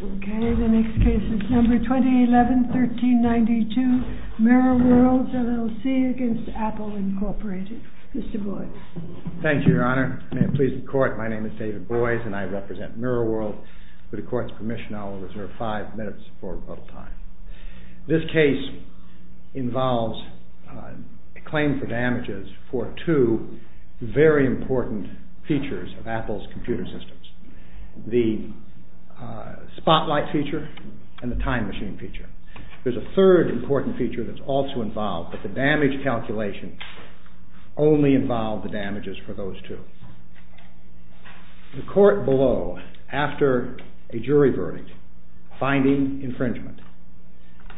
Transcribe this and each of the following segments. Okay, the next case is number 2011-1392, MIRROR WORLDS LLC v. APPLE, Inc. Mr. Boyce. Thank you, Your Honor. May it please the Court, my name is David Boyce and I represent MIRROR WORLDS. With the Court's permission, I will reserve five minutes for rebuttal time. This case involves a claim for damages for two very important features of Apple's computer systems. The spotlight feature and the time machine feature. There's a third important feature that's also involved, but the damage calculation only involved the damages for those two. The Court below, after a jury verdict, finding infringement,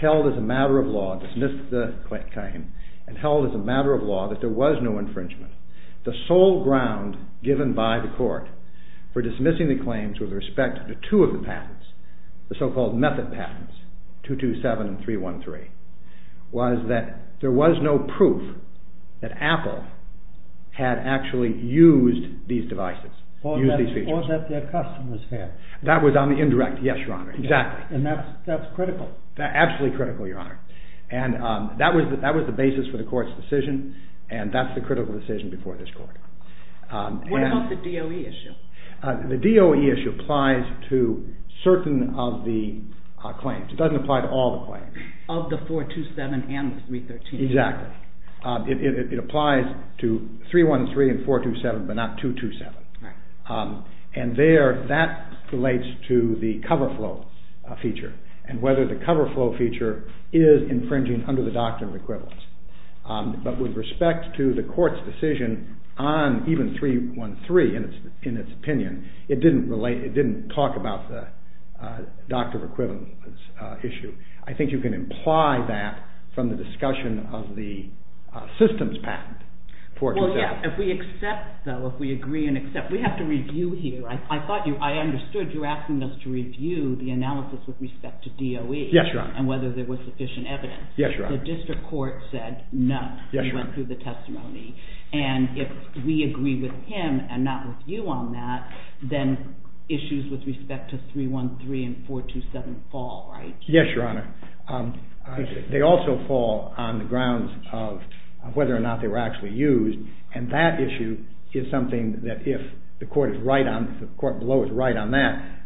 held as a matter of law, dismissed the claim, and held as a matter of law that there was no infringement. The sole ground given by the Court for dismissing the claims with respect to two of the patents, the so-called method patents, 227 and 313, was that there was no proof that Apple had actually used these devices, used these features. Or that their customers had. That was on the indirect, yes, Your Honor, exactly. And that's critical. Absolutely critical, Your Honor. And that was the basis for the Court's decision, and that's the critical decision before this Court. What about the DOE issue? The DOE issue applies to certain of the claims. It doesn't apply to all the claims. Of the 427 and the 313. Exactly. It applies to 313 and 427, but not 227. Right. And there, that relates to the cover flow feature, and whether the cover flow feature is infringing under the doctrine of equivalence. But with respect to the Court's decision on even 313, in its opinion, it didn't relate, it didn't talk about the doctrine of equivalence issue. I think you can imply that from the discussion of the systems patent. Well, yes. If we accept, though, if we agree and accept. We have to review here. I thought you, I understood you asking us to review the analysis with respect to DOE. Yes, Your Honor. And whether there was sufficient evidence. Yes, Your Honor. The District Court said no. Yes, Your Honor. It went through the testimony. And if we agree with him and not with you on that, then issues with respect to 313 and 427 fall, right? Yes, Your Honor. They also fall on the grounds of whether or not they were actually used. And that issue is something that if the Court is right on, the Court below is right on that,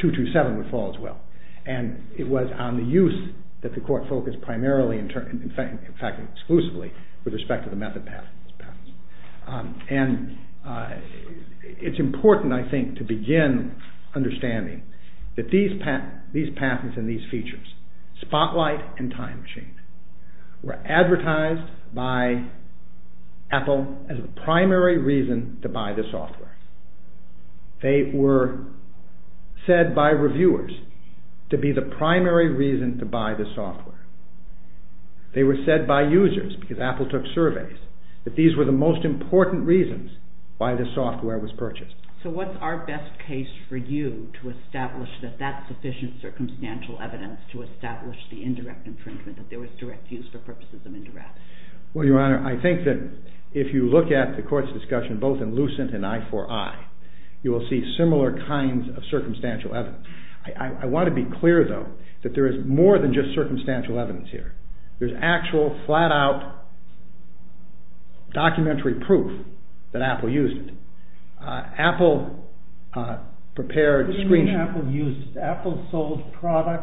227 would fall as well. And it was on the use that the Court focused primarily, in fact exclusively, with respect to the method patents. And it's important, I think, to begin understanding that these patents and these features, Spotlight and Time Machine, were advertised by Apple as the primary reason to buy this software. They were said by reviewers to be the primary reason to buy this software. They were said by users, because Apple took surveys, that these were the most important reasons why this software was purchased. So what's our best case for you to establish that that's sufficient circumstantial evidence to establish the indirect infringement, that there was direct use for purposes of indirect? Well, Your Honor, I think that if you look at the Court's discussion, both in Lucent and I4I, you will see similar kinds of circumstantial evidence. I want to be clear, though, that there is more than just circumstantial evidence here. There's actual, flat-out, documentary proof that Apple used it. Apple prepared screen- What do you mean Apple used it?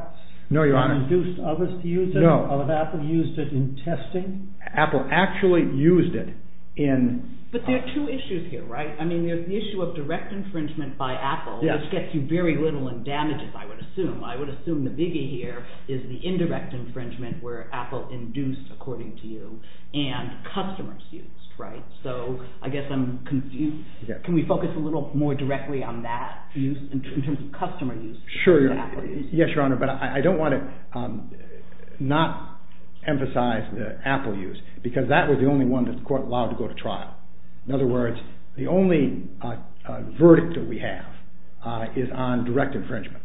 No, Your Honor. No, Apple used it in testing. Apple actually used it in- But there are two issues here, right? I mean, there's the issue of direct infringement by Apple, which gets you very little in damages, I would assume. I would assume the biggie here is the indirect infringement where Apple induced, according to you, and customers used, right? So I guess I'm confused. Can we focus a little more directly on that use, in terms of customer use? Yes, Your Honor, but I don't want to not emphasize the Apple use, because that was the only one that the Court allowed to go to trial. In other words, the only verdict that we have is on direct infringement.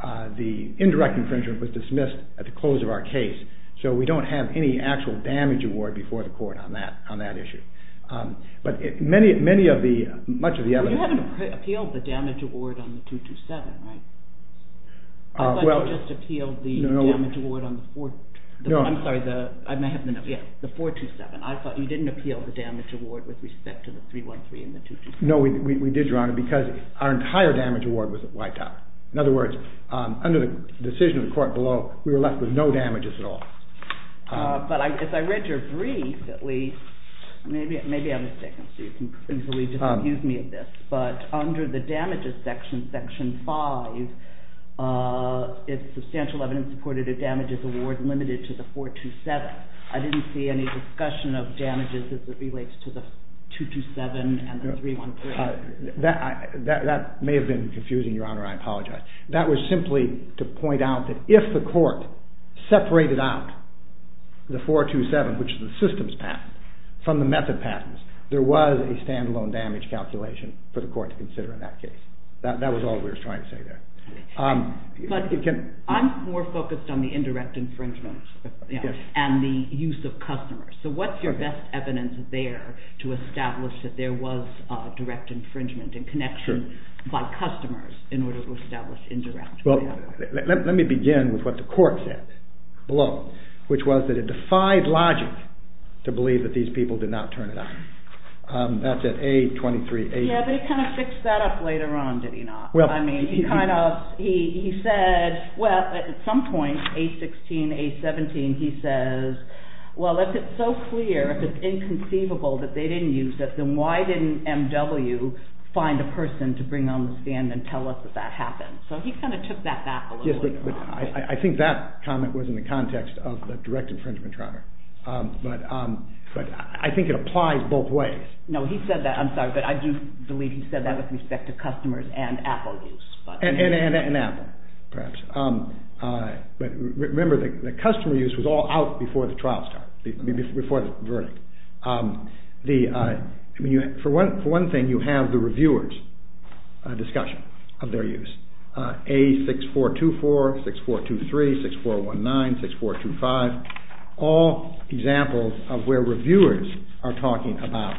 The indirect infringement was dismissed at the close of our case, so we don't have any actual damage award before the Court on that issue. You haven't appealed the damage award on the 227, right? I thought you just appealed the damage award on the 427. I thought you didn't appeal the damage award with respect to the 313 and the 227. No, we did, Your Honor, because our entire damage award was wiped out. In other words, under the decision of the Court below, we were left with no damages at all. But as I read your brief, at least, maybe I'm mistaken, so you can easily disaccuse me of this, but under the damages section, section 5, it's substantial evidence supported a damages award limited to the 427. I didn't see any discussion of damages as it relates to the 227 and the 313. That may have been confusing, Your Honor, I apologize. That was simply to point out that if the Court separated out the 427, which is the systems patent, from the method patents, there was a standalone damage calculation for the Court to consider in that case. That was all we were trying to say there. But I'm more focused on the indirect infringement and the use of customers, so what's your best evidence there to establish that there was direct infringement and connection by customers in order to establish indirect? Well, let me begin with what the Court said below, which was that it defied logic to believe that these people did not turn it on. That's at A2380. Yeah, but he kind of fixed that up later on, did he not? I mean, he said, well, at some point, A16, A17, he says, well, if it's so clear, if it's inconceivable that they didn't use it, then why didn't MW find a person to bring on the stand and tell us that that happened? So he kind of took that back a little bit. I think that comment was in the context of the direct infringement, Your Honor. But I think it applies both ways. No, he said that, I'm sorry, but I do believe he said that with respect to customers and Apple use. And Apple, perhaps. But remember, the customer use was all out before the trial started, before the verdict. For one thing, you have the reviewers' discussion of their use, A6424, 6423, 6419, 6425, all examples of where reviewers are talking about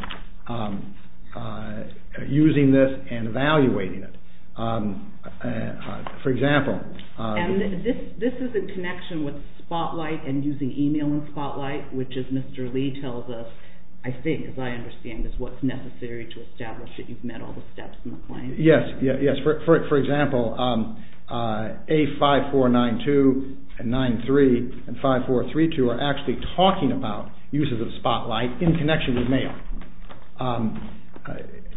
using this and evaluating it. For example... And this is in connection with Spotlight and using email in Spotlight, which, as Mr. Lee tells us, I think, as I understand, is what's necessary to establish that you've met all the steps in the claim. Yes, for example, A5492 and 93 and 5432 are actually talking about uses of Spotlight in connection with mail.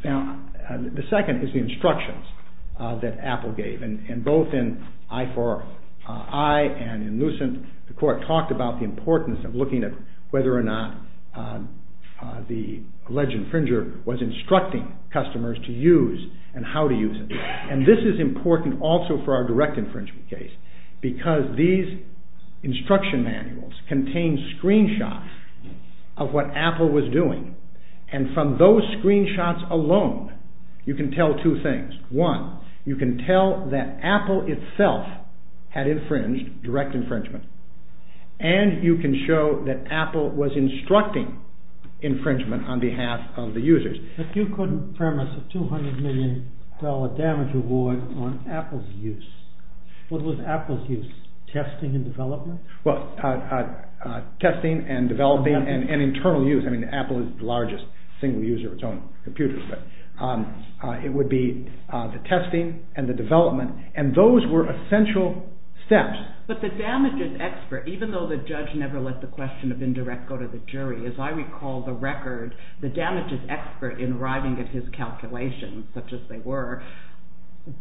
Now, the second is the instructions that Apple gave. And both in I4I and in Lucent, the court talked about the importance of looking at whether or not the alleged infringer was instructing customers to use and how to use it. And this is important also for our direct infringement case, because these instruction manuals contain screenshots of what Apple was doing. And from those screenshots alone, you can tell two things. One, you can tell that Apple itself had infringed, direct infringement, and you can show that Apple was instructing infringement on behalf of the users. But you couldn't premise a $200 million damage award on Apple's use. What was Apple's use? Testing and development? Well, testing and developing and internal use. I mean, Apple is the largest single user of its own computer. But it would be the testing and the development. And those were essential steps. But the damages expert, even though the judge never let the question of indirect go to the jury, as I recall the record, the damages expert in arriving at his calculations, such as they were,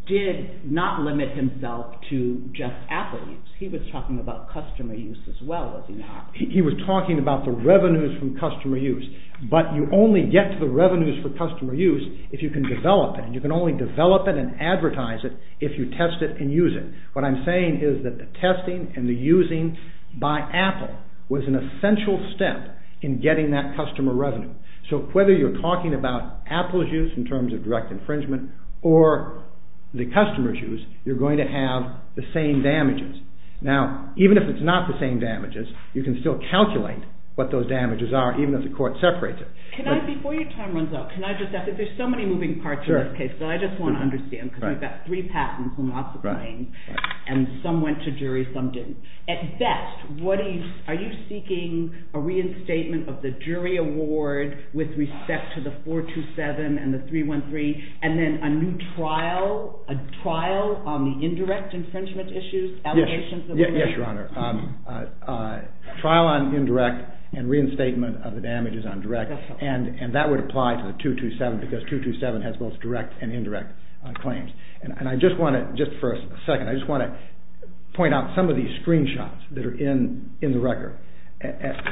did not limit himself to just Apple use. He was talking about customer use as well, was he not? He was talking about the revenues from customer use. But you only get to the revenues for customer use if you can develop it. And you can only develop it and advertise it if you test it and use it. What I'm saying is that the testing and the using by Apple was an essential step in getting that customer revenue. So whether you're talking about Apple's use in terms of direct infringement, or the customer's use, you're going to have the same damages. Now, even if it's not the same damages, you can still calculate what those damages are, even if the court separates it. Can I, before your time runs out, can I just ask, there's so many moving parts in this case, so I just want to understand, because we've got three patents and lots of claims, and some went to jury, some didn't. At best, are you seeking a reinstatement of the jury award with respect to the 427 and the 313, and then a new trial, a trial on the indirect infringement issues? Yes, Your Honor. A trial on indirect and reinstatement of the damages on direct, and that would apply to the 227, because 227 has both direct and indirect claims. And I just want to, just for a second, I just want to point out some of these screenshots that are in the record. At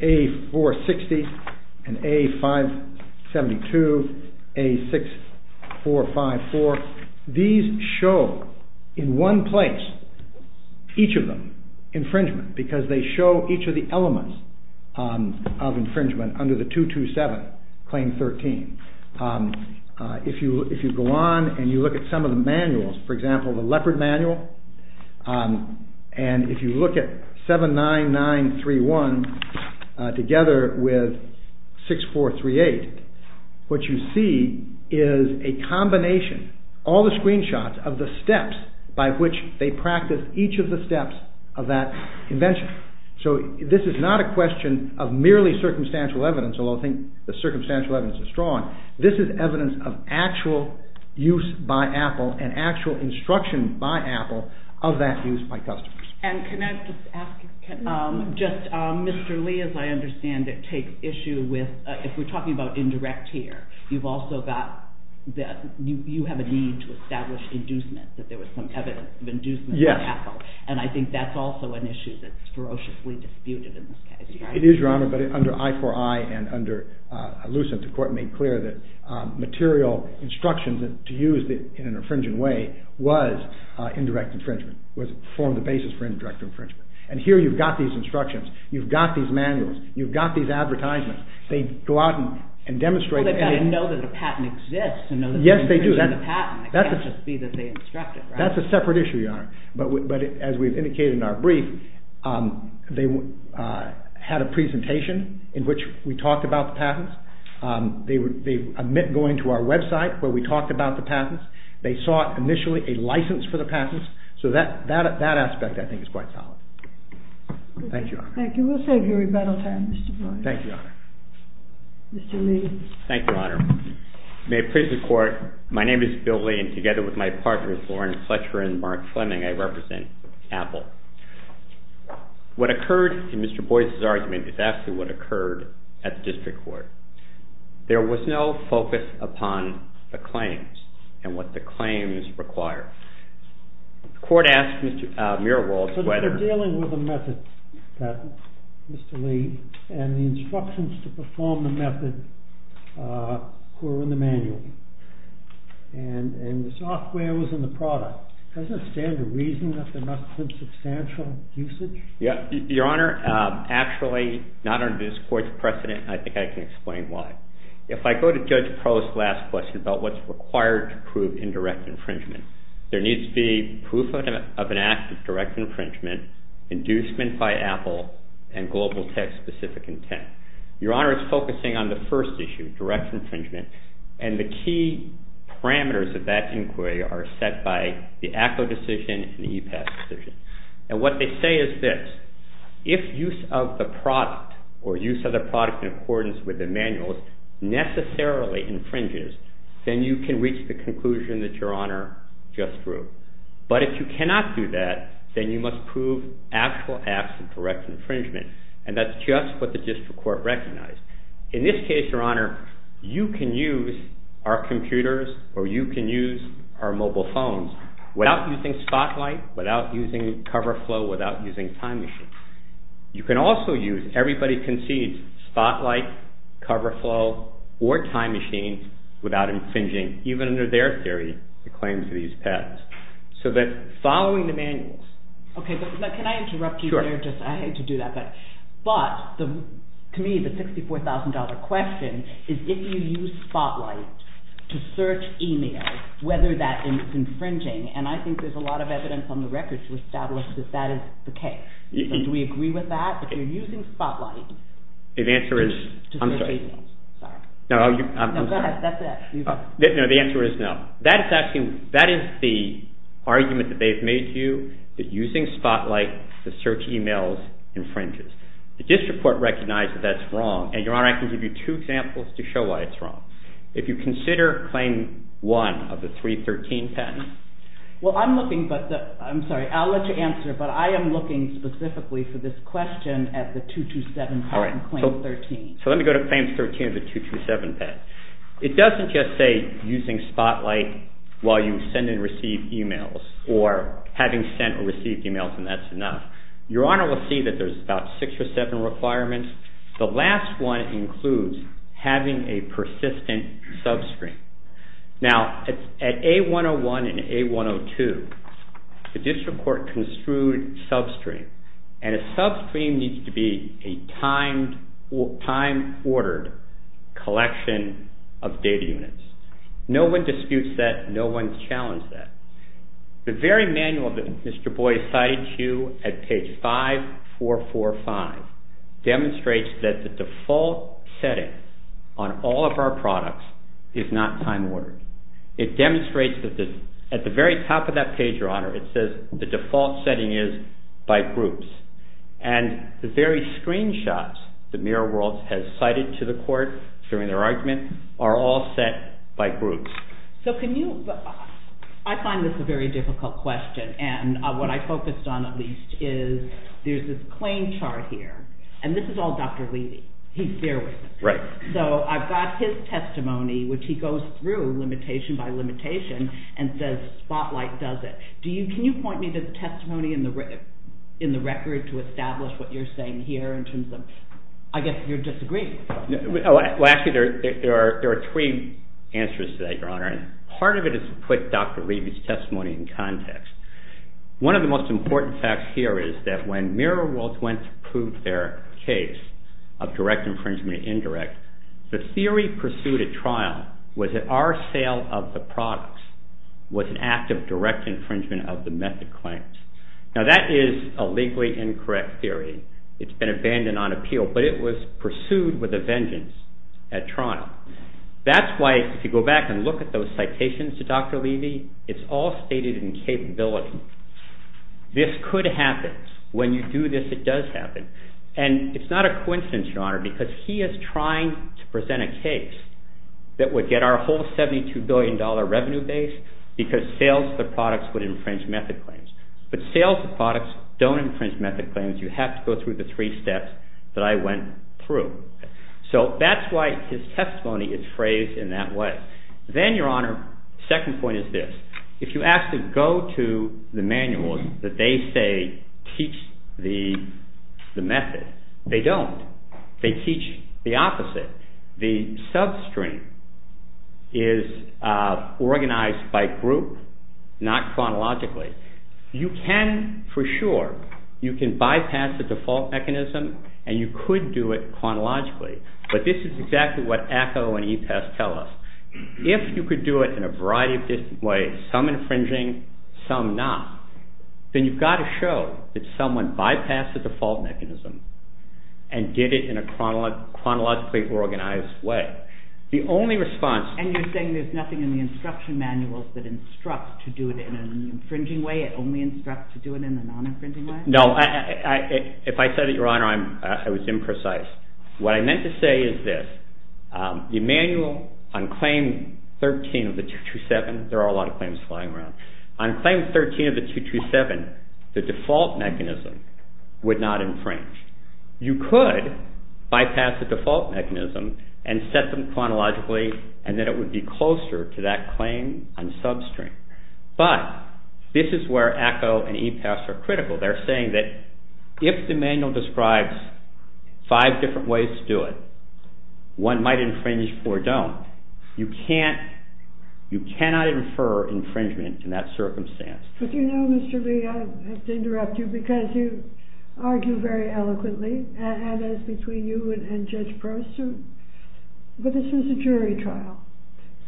A460 and A572, A6454, these show, in one place, each of them, infringement, because they show each of the elements of infringement under the 227, Claim 13. If you go on and you look at some of the manuals, for example, the Leopard Manual, and if you look at 79931 together with 6438, what you see is a combination, all the screenshots of the steps by which they practiced each of the steps of that invention. So this is not a question of merely circumstantial evidence, although I think the circumstantial evidence is strong. This is evidence of actual use by Apple and actual instruction by Apple of that use by customers. And can I just ask, just Mr. Lee, as I understand it, takes issue with, if we're talking about indirect here, you've also got, you have a need to establish inducement, that there was some evidence of inducement by Apple. And I think that's also an issue that's ferociously disputed in this case. It is, Your Honor, but under I4I and under Lucent, the court made clear that material instructions to use in an infringing way was indirect infringement, formed the basis for indirect infringement. And here you've got these instructions, you've got these manuals, you've got these advertisements, they go out and demonstrate. Well, they've got to know that the patent exists. Yes, they do. It can't just be that they instructed, right? That's a separate issue, Your Honor. But as we've indicated in our brief, they had a presentation in which we talked about the patents. They admit going to our website where we talked about the patents. They sought initially a license for the patents. So that aspect, I think, is quite solid. Thank you, Your Honor. Thank you. We'll save you rebuttal time, Mr. Floyd. Thank you, Your Honor. Mr. Lee. Thank you, Your Honor. May it please the Court, my name is Bill Lee, and together with my partners, Lauren Fletcher and Mark Fleming, I represent Apple. What occurred in Mr. Boyce's argument is actually what occurred at the district court. There was no focus upon the claims and what the claims require. The Court asked Mr. Muirwald whether- But they're dealing with a method, Mr. Lee, and the instructions to perform the method were in the manual. And the software was in the product. Doesn't it stand to reason that there must have been substantial usage? Your Honor, actually, not under this Court's precedent, and I think I can explain why. If I go to Judge Crow's last question about what's required to prove indirect infringement, there needs to be proof of an act of direct infringement, inducement by Apple, and global tech-specific intent. Your Honor is focusing on the first issue, direct infringement, and the key parameters of that inquiry are set by the ACCO decision and the EPAS decision. And what they say is this, if use of the product or use of the product in accordance with the manuals necessarily infringes, then you can reach the conclusion that Your Honor just drew. But if you cannot do that, then you must prove actual acts of direct infringement. And that's just what the district court recognized. In this case, Your Honor, you can use our computers or you can use our mobile phones without using Spotlight, without using CoverFlow, without using Time Machine. You can also use, everybody concedes, Spotlight, CoverFlow, or Time Machine without infringing, even under their theory, the claims of these patents. So that following the manuals... Okay, but can I interrupt you there? I hate to do that. But to me, the $64,000 question is if you use Spotlight to search email, whether that is infringing, and I think there's a lot of evidence on the record to establish that that is the case. Do we agree with that? If you're using Spotlight... The answer is... I'm sorry. No, go ahead. That's it. No, the answer is no. That is the argument that they've made to you, that using Spotlight to search emails infringes. The district court recognized that that's wrong, and Your Honor, I can give you two examples to show why it's wrong. If you consider Claim 1 of the 313 patent... Well, I'm looking, but I'm sorry, I'll let you answer, but I am looking specifically for this question at the 227 patent, Claim 13. So let me go to Claim 13 of the 227 patent. It doesn't just say using Spotlight while you send and receive emails, or having sent or received emails, and that's enough. Your Honor will see that there's about six or seven requirements. The last one includes having a persistent substream. Now, at A101 and A102, the district court construed substream, and a substream needs to be a time-ordered collection of data units. No one disputes that. No one challenges that. The very manual that Mr. Boyd cited to you at page 5445 demonstrates that the default setting on all of our products is not time-ordered. It demonstrates that at the very top of that page, Your Honor, it says the default setting is by groups, and the very screenshots that Mirror World has cited to the court during their argument are all set by groups. So can you – I find this a very difficult question, and what I focused on at least is there's this claim chart here, and this is all Dr. Levy. He's there with us. Right. So I've got his testimony, which he goes through limitation by limitation and says Spotlight does it. Can you point me to the testimony in the record to establish what you're saying here in terms of – I guess you're disagreeing. Well, actually, there are three answers to that, Your Honor, and part of it is to put Dr. Levy's testimony in context. One of the most important facts here is that when Mirror World went to prove their case of direct infringement or indirect, the theory pursued at trial was that our sale of the products was an act of direct infringement of the method claims. Now that is a legally incorrect theory. It's been abandoned on appeal, but it was pursued with a vengeance at trial. That's why if you go back and look at those citations to Dr. Levy, it's all stated in capability. This could happen. When you do this, it does happen. And it's not a coincidence, Your Honor, because he is trying to present a case that would get our whole $72 billion revenue base because sales of the products would infringe method claims. But sales of products don't infringe method claims. You have to go through the three steps that I went through. So that's why his testimony is phrased in that way. Then, Your Honor, the second point is this. If you ask to go to the manuals that they say teach the method, they don't. They teach the opposite. The substring is organized by group, not chronologically. You can, for sure, you can bypass the default mechanism and you could do it chronologically. But this is exactly what ACO and EPAS tell us. If you could do it in a variety of different ways, some infringing, some not, then you've got to show that someone bypassed the default mechanism and did it in a chronologically organized way. The only response... And you're saying there's nothing in the instruction manuals that instructs to do it in an infringing way? It only instructs to do it in a non-infringing way? No, if I said it, Your Honor, I was imprecise. What I meant to say is this. The manual on claim 13 of the 227, there are a lot of claims flying around. On claim 13 of the 227, the default mechanism would not infringe. You could bypass the default mechanism and set them chronologically and then it would be closer to that claim on substring. But this is where ACO and EPAS are critical. They're saying that if the manual describes five different ways to do it, one might infringe or don't, you cannot infer infringement in that circumstance. But you know, Mr. Lee, I have to interrupt you because you argue very eloquently, and as between you and Judge Prost, but this was a jury trial,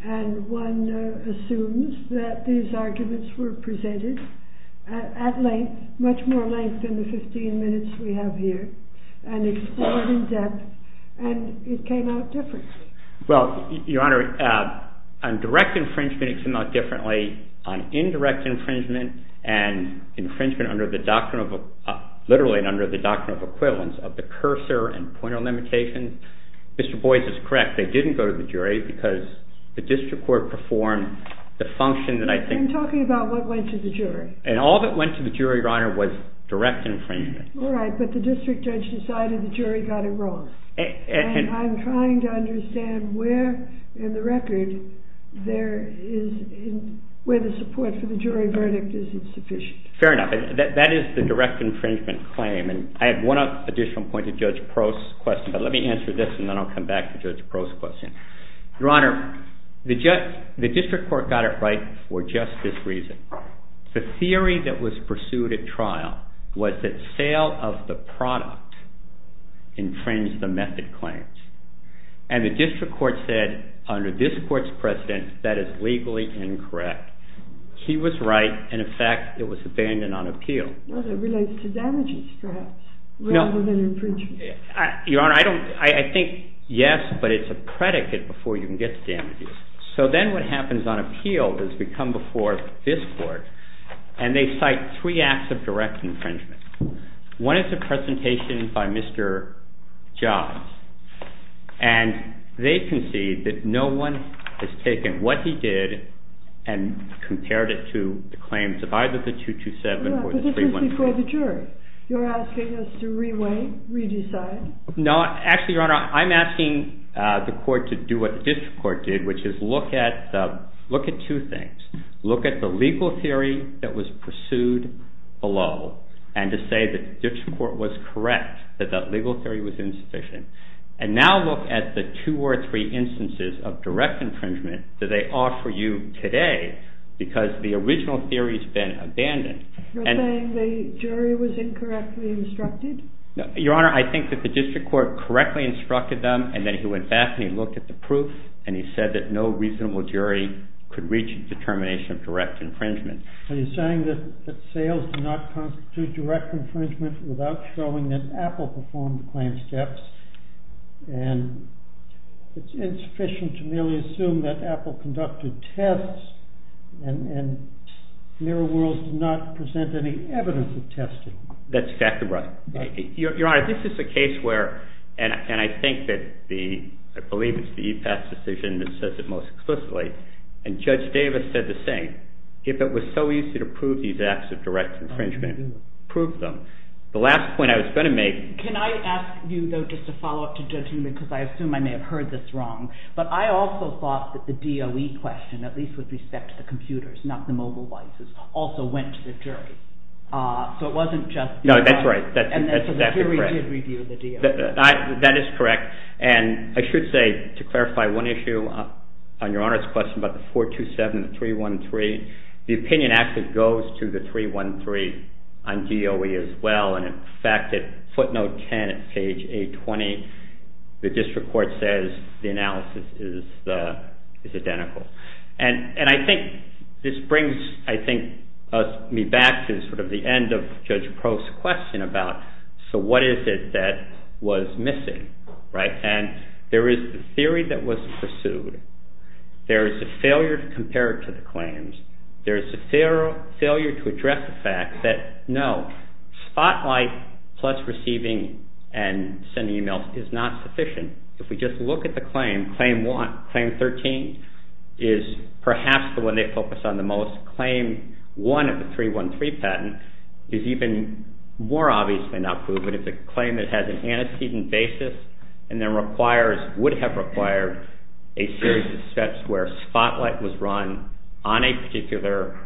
and one assumes that these arguments were presented at length, much more length than the 15 minutes we have here, and explored in depth, and it came out different. Well, Your Honor, on direct infringement it came out differently. On indirect infringement and infringement under the doctrinal, literally under the doctrinal equivalence of the cursor and pointer limitations, Mr. Boies is correct. They didn't go to the jury because the district court performed the function that I think. I'm talking about what went to the jury. And all that went to the jury, Your Honor, was direct infringement. All right, but the district judge decided the jury got it wrong. And I'm trying to understand where in the record there is, where the support for the jury verdict is insufficient. Fair enough. That is the direct infringement claim, and I have one additional point to Judge Prost's question, but let me answer this and then I'll come back to Judge Prost's question. Your Honor, the district court got it right for just this reason. The theory that was pursued at trial was that sale of the product infringed the method claims. And the district court said, under this court's precedent, that is legally incorrect. He was right, and, in fact, it was abandoned on appeal. Well, that relates to damages, perhaps, rather than infringement. Your Honor, I think, yes, but it's a predicate before you can get to damages. So then what happens on appeal is we come before this court, and they cite three acts of direct infringement. One is a presentation by Mr. Jobs, and they concede that no one has taken what he did and compared it to the claims of either the 227 or the 313. But this is before the jury. You're asking us to re-weight, re-decide? No, actually, Your Honor, I'm asking the court to do what the district court did, which is look at two things. Look at the legal theory that was pursued below and to say that the district court was correct, that that legal theory was insufficient. And now look at the two or three instances of direct infringement that they offer you today because the original theory has been abandoned. You're saying the jury was incorrectly instructed? Your Honor, I think that the district court correctly instructed them, and then he went back and he looked at the proof, and he said that no reasonable jury could reach a determination of direct infringement. So you're saying that sales do not constitute direct infringement without showing that Apple performed the claim steps, and it's insufficient to merely assume that Apple conducted tests and Mirror World did not present any evidence of testing. That's exactly right. Your Honor, this is a case where, and I believe it's the E-PASS decision that says it most explicitly, and Judge Davis said the same. If it was so easy to prove these acts of direct infringement, prove them. The last point I was going to make... Can I ask you, though, just to follow up to Judge Newman because I assume I may have heard this wrong, but I also thought that the DOE question, at least with respect to the computers, not the mobile devices, also went to the jury. So it wasn't just... No, that's right. And so the jury did review the DOE. That is correct. And I should say, to clarify one issue on Your Honor's question about the 427 and the 313, the opinion actually goes to the 313 on DOE as well, and in fact at footnote 10 at page 820, the district court says the analysis is identical. And I think this brings me back to sort of the end of Judge Prost's question about, so what is it that was missing, right? And there is the theory that was pursued. There is a failure to compare it to the claims. There is a failure to address the fact that, no, spotlight plus receiving and sending e-mails is not sufficient. If we just look at the claim, claim one, claim 13, is perhaps the one they focus on the most. Claim one of the 313 patent is even more obviously not proven. It's a claim that has an antecedent basis and then would have required a series of steps where spotlight was run on a particular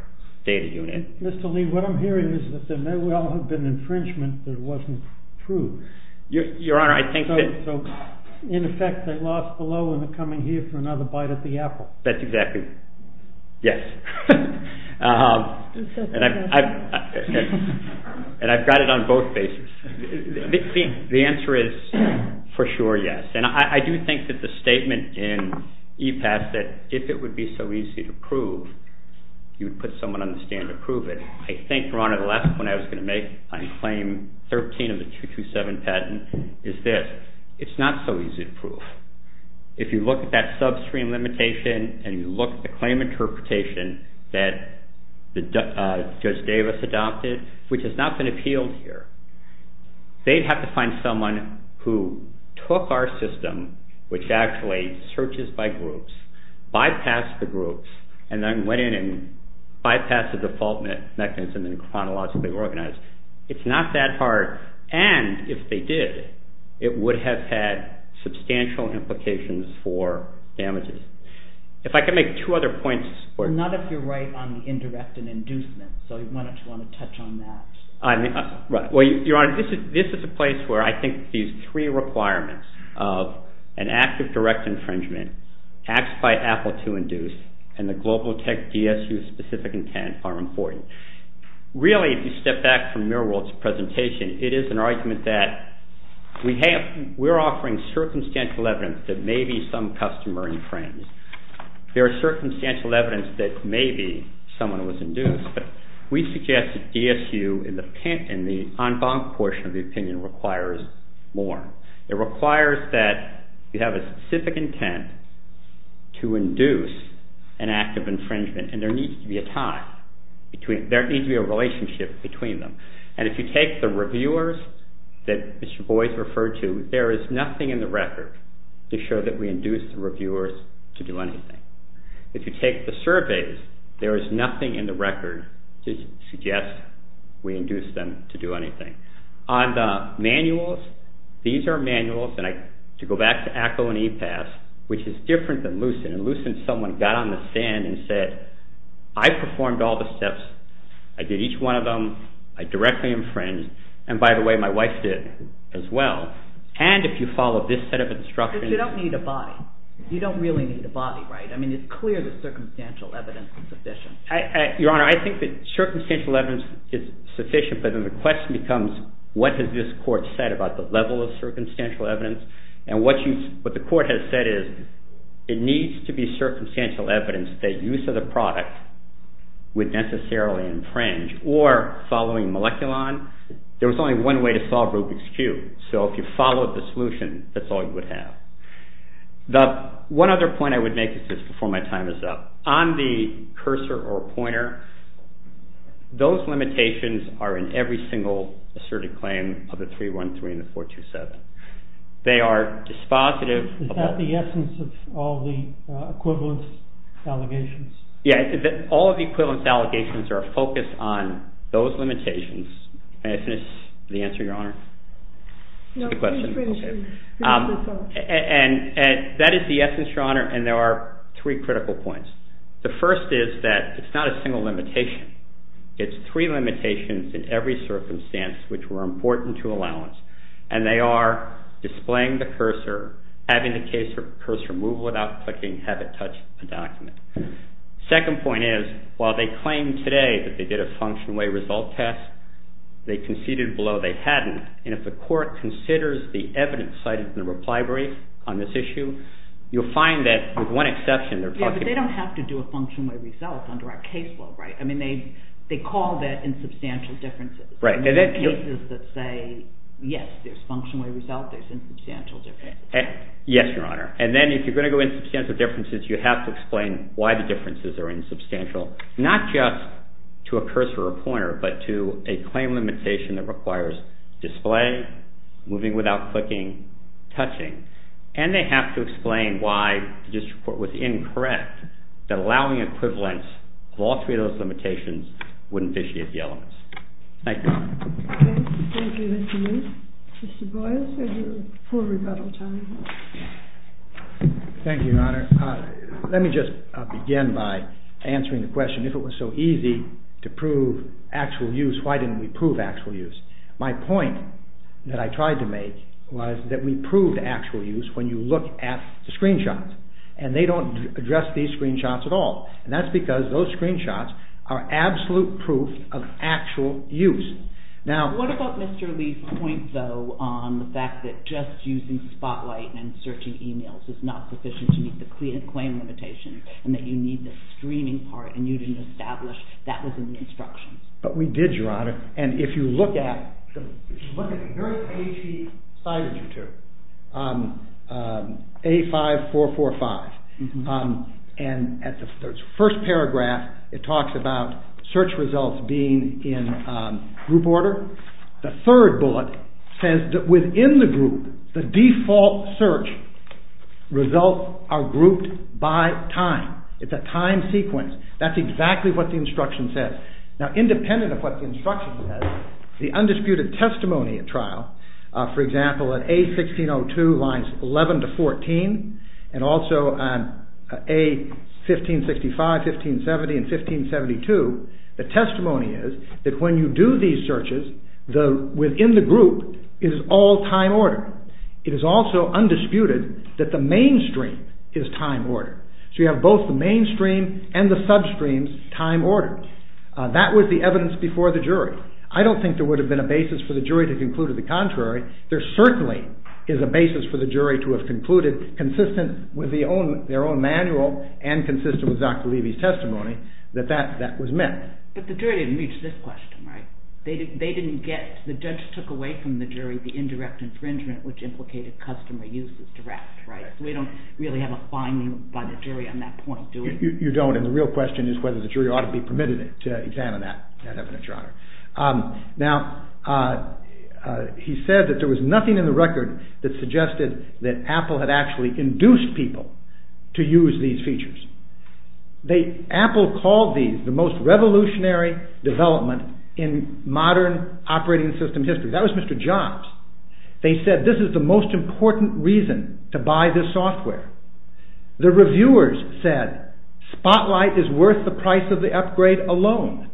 data unit. Mr. Lee, what I'm hearing is that there may well have been infringement that wasn't true. Your Honor, I think that... So, in effect, they lost below and are coming here for another bite at the apple. That's exactly... Yes. And I've got it on both bases. The answer is, for sure, yes. And I do think that the statement in EPAS that if it would be so easy to prove, you would put someone on the stand to prove it. I think, Your Honor, the last point I was going to make on claim 13 of the 227 patent is this. It's not so easy to prove. If you look at that subscreen limitation and you look at the claim interpretation that Judge Davis adopted, which has not been appealed here, they'd have to find someone who took our system, which actually searches by groups, bypassed the groups, and then went in and bypassed the default mechanism and chronologically organized. It's not that hard. And if they did, it would have had substantial implications for damages. If I could make two other points... Not if you're right on the indirect and inducement. So why don't you want to touch on that? Right. Well, Your Honor, this is a place where I think these three requirements of an act of direct infringement, acts by apple to induce, and the global tech DSU-specific intent are important. Really, if you step back from Mirold's presentation, it is an argument that we're offering circumstantial evidence that maybe some customer infringed. There is circumstantial evidence that maybe someone was induced, but we suggest that DSU in the en banc portion of the opinion requires more. It requires that you have a specific intent to induce an act of infringement, and there needs to be a time. There needs to be a relationship between them. And if you take the reviewers that Mr. Boies referred to, there is nothing in the record to show that we induced the reviewers to do anything. If you take the surveys, there is nothing in the record to suggest we induced them to do anything. On the manuals, these are manuals, and to go back to ACO and EPAS, which is different than LUCEN, and LUCEN, someone got on the stand and said, I performed all the steps. I did each one of them. I directly infringed. And by the way, my wife did as well. And if you follow this set of instructions... But you don't need a body. You don't really need a body, right? I mean, it's clear that circumstantial evidence is sufficient. Your Honor, I think that circumstantial evidence is sufficient, but then the question becomes, what has this Court said about the level of circumstantial evidence? And what the Court has said is it needs to be circumstantial evidence that use of the product would necessarily infringe or following moleculon. There was only one way to solve Rubik's Cube. So if you followed the solution, that's all you would have. The one other point I would make is this before my time is up. On the cursor or pointer, those limitations are in every single asserted claim of the 313 and the 427. They are dispositive... Is that the essence of all the equivalence allegations? Yeah, all of the equivalence allegations are focused on those limitations. May I finish the answer, Your Honor? No, please finish. And that is the essence, Your Honor, and there are three critical points. The first is that it's not a single limitation. It's three limitations in every circumstance which were important to allowance, and they are displaying the cursor, having the cursor move without clicking, have it touch the document. Second point is, while they claim today that they did a function-way result test, they conceded below they hadn't, and if the court considers the evidence cited in the reply brief on this issue, you'll find that with one exception... Yeah, but they don't have to do a function-way result under our case law, right? I mean, they call that insubstantial differences. Right. There are cases that say, yes, there's function-way result, there's insubstantial differences. Yes, Your Honor. And then if you're going to go insubstantial differences, you have to explain why the differences are insubstantial, not just to a cursor or pointer, but to a claim limitation that requires display, moving without clicking, touching, and they have to explain why the district court was incorrect that allowing equivalence of all three of those limitations wouldn't vitiate the elements. Thank you, Your Honor. Okay, thank you, Mr. Moody. Mr. Boyles, you have your full rebuttal time. Thank you, Your Honor. Let me just begin by answering the question, if it was so easy to prove actual use, why didn't we prove actual use? My point that I tried to make was that we proved actual use when you look at the screenshots, and they don't address these screenshots at all, and that's because those screenshots are absolute proof of actual use. Now, what about Mr. Lee's point, though, on the fact that just using Spotlight and searching emails is not sufficient to meet the claim limitation, and that you need the streaming part, and you didn't establish that was in the instructions? But we did, Your Honor, and if you look at the nurse page he cited you to, A5445, and at the first paragraph, it talks about search results being in group order. The third bullet says that within the group, the default search results are grouped by time. It's a time sequence. That's exactly what the instruction says. Now, independent of what the instruction says, the undisputed testimony at trial, for example, at A1602, lines 11 to 14, and also on A1565, 1570, and 1572, the testimony is that when you do these searches, within the group, it is all time order. It is also undisputed that the mainstream is time order. So you have both the mainstream and the substreams, time order. That was the evidence before the jury. I don't think there would have been a basis for the jury to conclude to the contrary. There certainly is a basis for the jury to have concluded, consistent with their own manual and consistent with Dr. Levy's testimony, that that was met. But the jury didn't reach this question, right? The judge took away from the jury the indirect infringement, which implicated customer use as direct, right? So we don't really have a finding by the jury on that point, do we? You don't, and the real question is whether the jury ought to be permitted to examine that evidence, Your Honor. Now, he said that there was nothing in the record that suggested that Apple had actually induced people to use these features. Apple called these the most revolutionary development in modern operating system history. That was Mr. Jobs. They said this is the most important reason to buy this software. The reviewers said Spotlight is worth the price of the upgrade alone.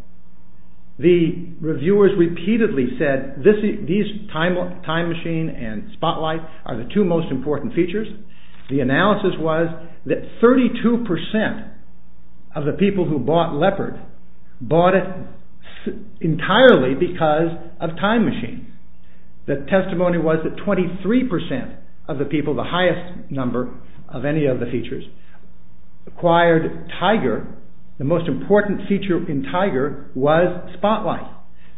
The reviewers repeatedly said these time machine and Spotlight are the two most important features. The analysis was that 32% of the people who bought Leopard bought it entirely because of time machine. The testimony was that 23% of the people, the highest number of any of the features, acquired Tiger. The most important feature in Tiger was Spotlight.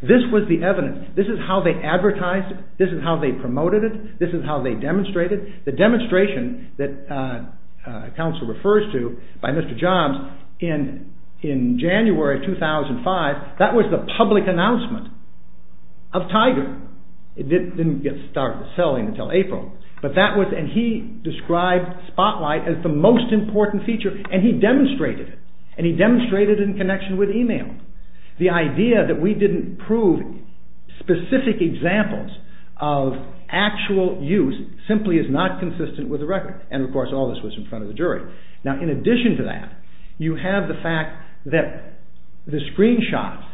This was the evidence. This is how they advertised it. This is how they promoted it. This is how they demonstrated it. The demonstration that counsel refers to by Mr. Jobs in January 2005, that was the public announcement of Tiger. It didn't get started selling until April. He described Spotlight as the most important feature and he demonstrated it. He demonstrated it in connection with email. The idea that we didn't prove specific examples of actual use simply is not consistent with the record. Of course, all this was in front of the jury. In addition to that, you have the fact that the screenshots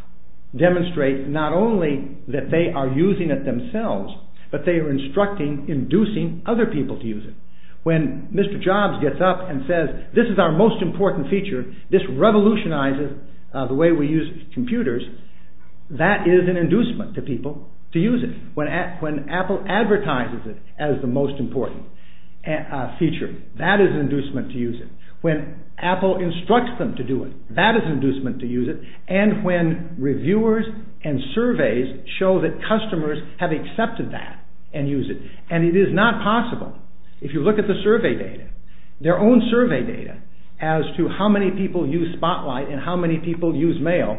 demonstrate not only that they are using it themselves, but they are instructing, inducing other people to use it. When Mr. Jobs gets up and says, this is our most important feature, this revolutionizes the way we use computers, that is an inducement to people to use it. When Apple advertises it as the most important feature, that is an inducement to use it. When Apple instructs them to do it, that is an inducement to use it. When reviewers and surveys show that customers have accepted that and use it. It is not possible. If you look at the survey data, their own survey data as to how many people use Spotlight and how many people use mail,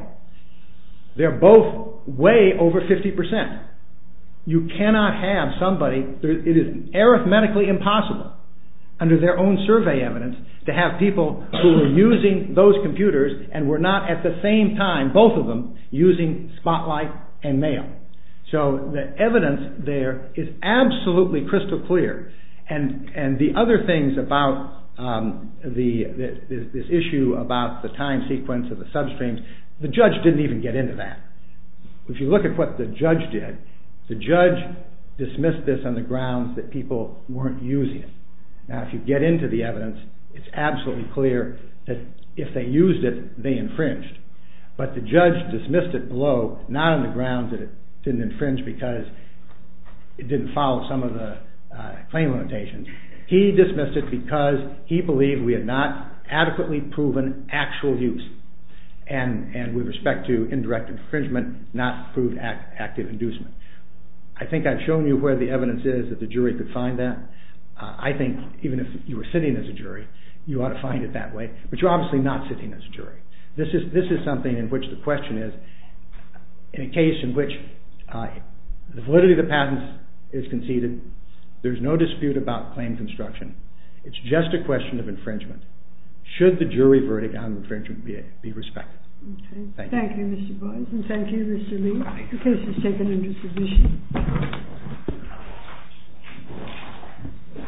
they are both way over 50%. You cannot have somebody, it is arithmetically impossible under their own survey evidence to have people who are using those computers and were not at the same time, both of them, using Spotlight and mail. The evidence there is absolutely crystal clear. The other things about this issue about the time sequence of the substream, the judge did not even get into that. If you look at what the judge did, the judge dismissed this on the grounds that people were not using it. If you get into the evidence, it is absolutely clear that if they used it, they infringed. The judge dismissed it below, not on the grounds that it did not infringe because it did not follow some of the claim limitations. He dismissed it because he believed we had not adequately proven actual use. With respect to indirect infringement, it did not prove active inducement. I think I have shown you where the evidence is that the jury could find that. I think even if you were sitting as a jury, you ought to find it that way. But you are obviously not sitting as a jury. This is something in which the question is, in a case in which the validity of the patent is conceded, there is no dispute about claim construction, it is just a question of infringement. Should the jury verdict on infringement be respected? Thank you Mr Boyce and thank you Mr Lee. The case has taken into submission.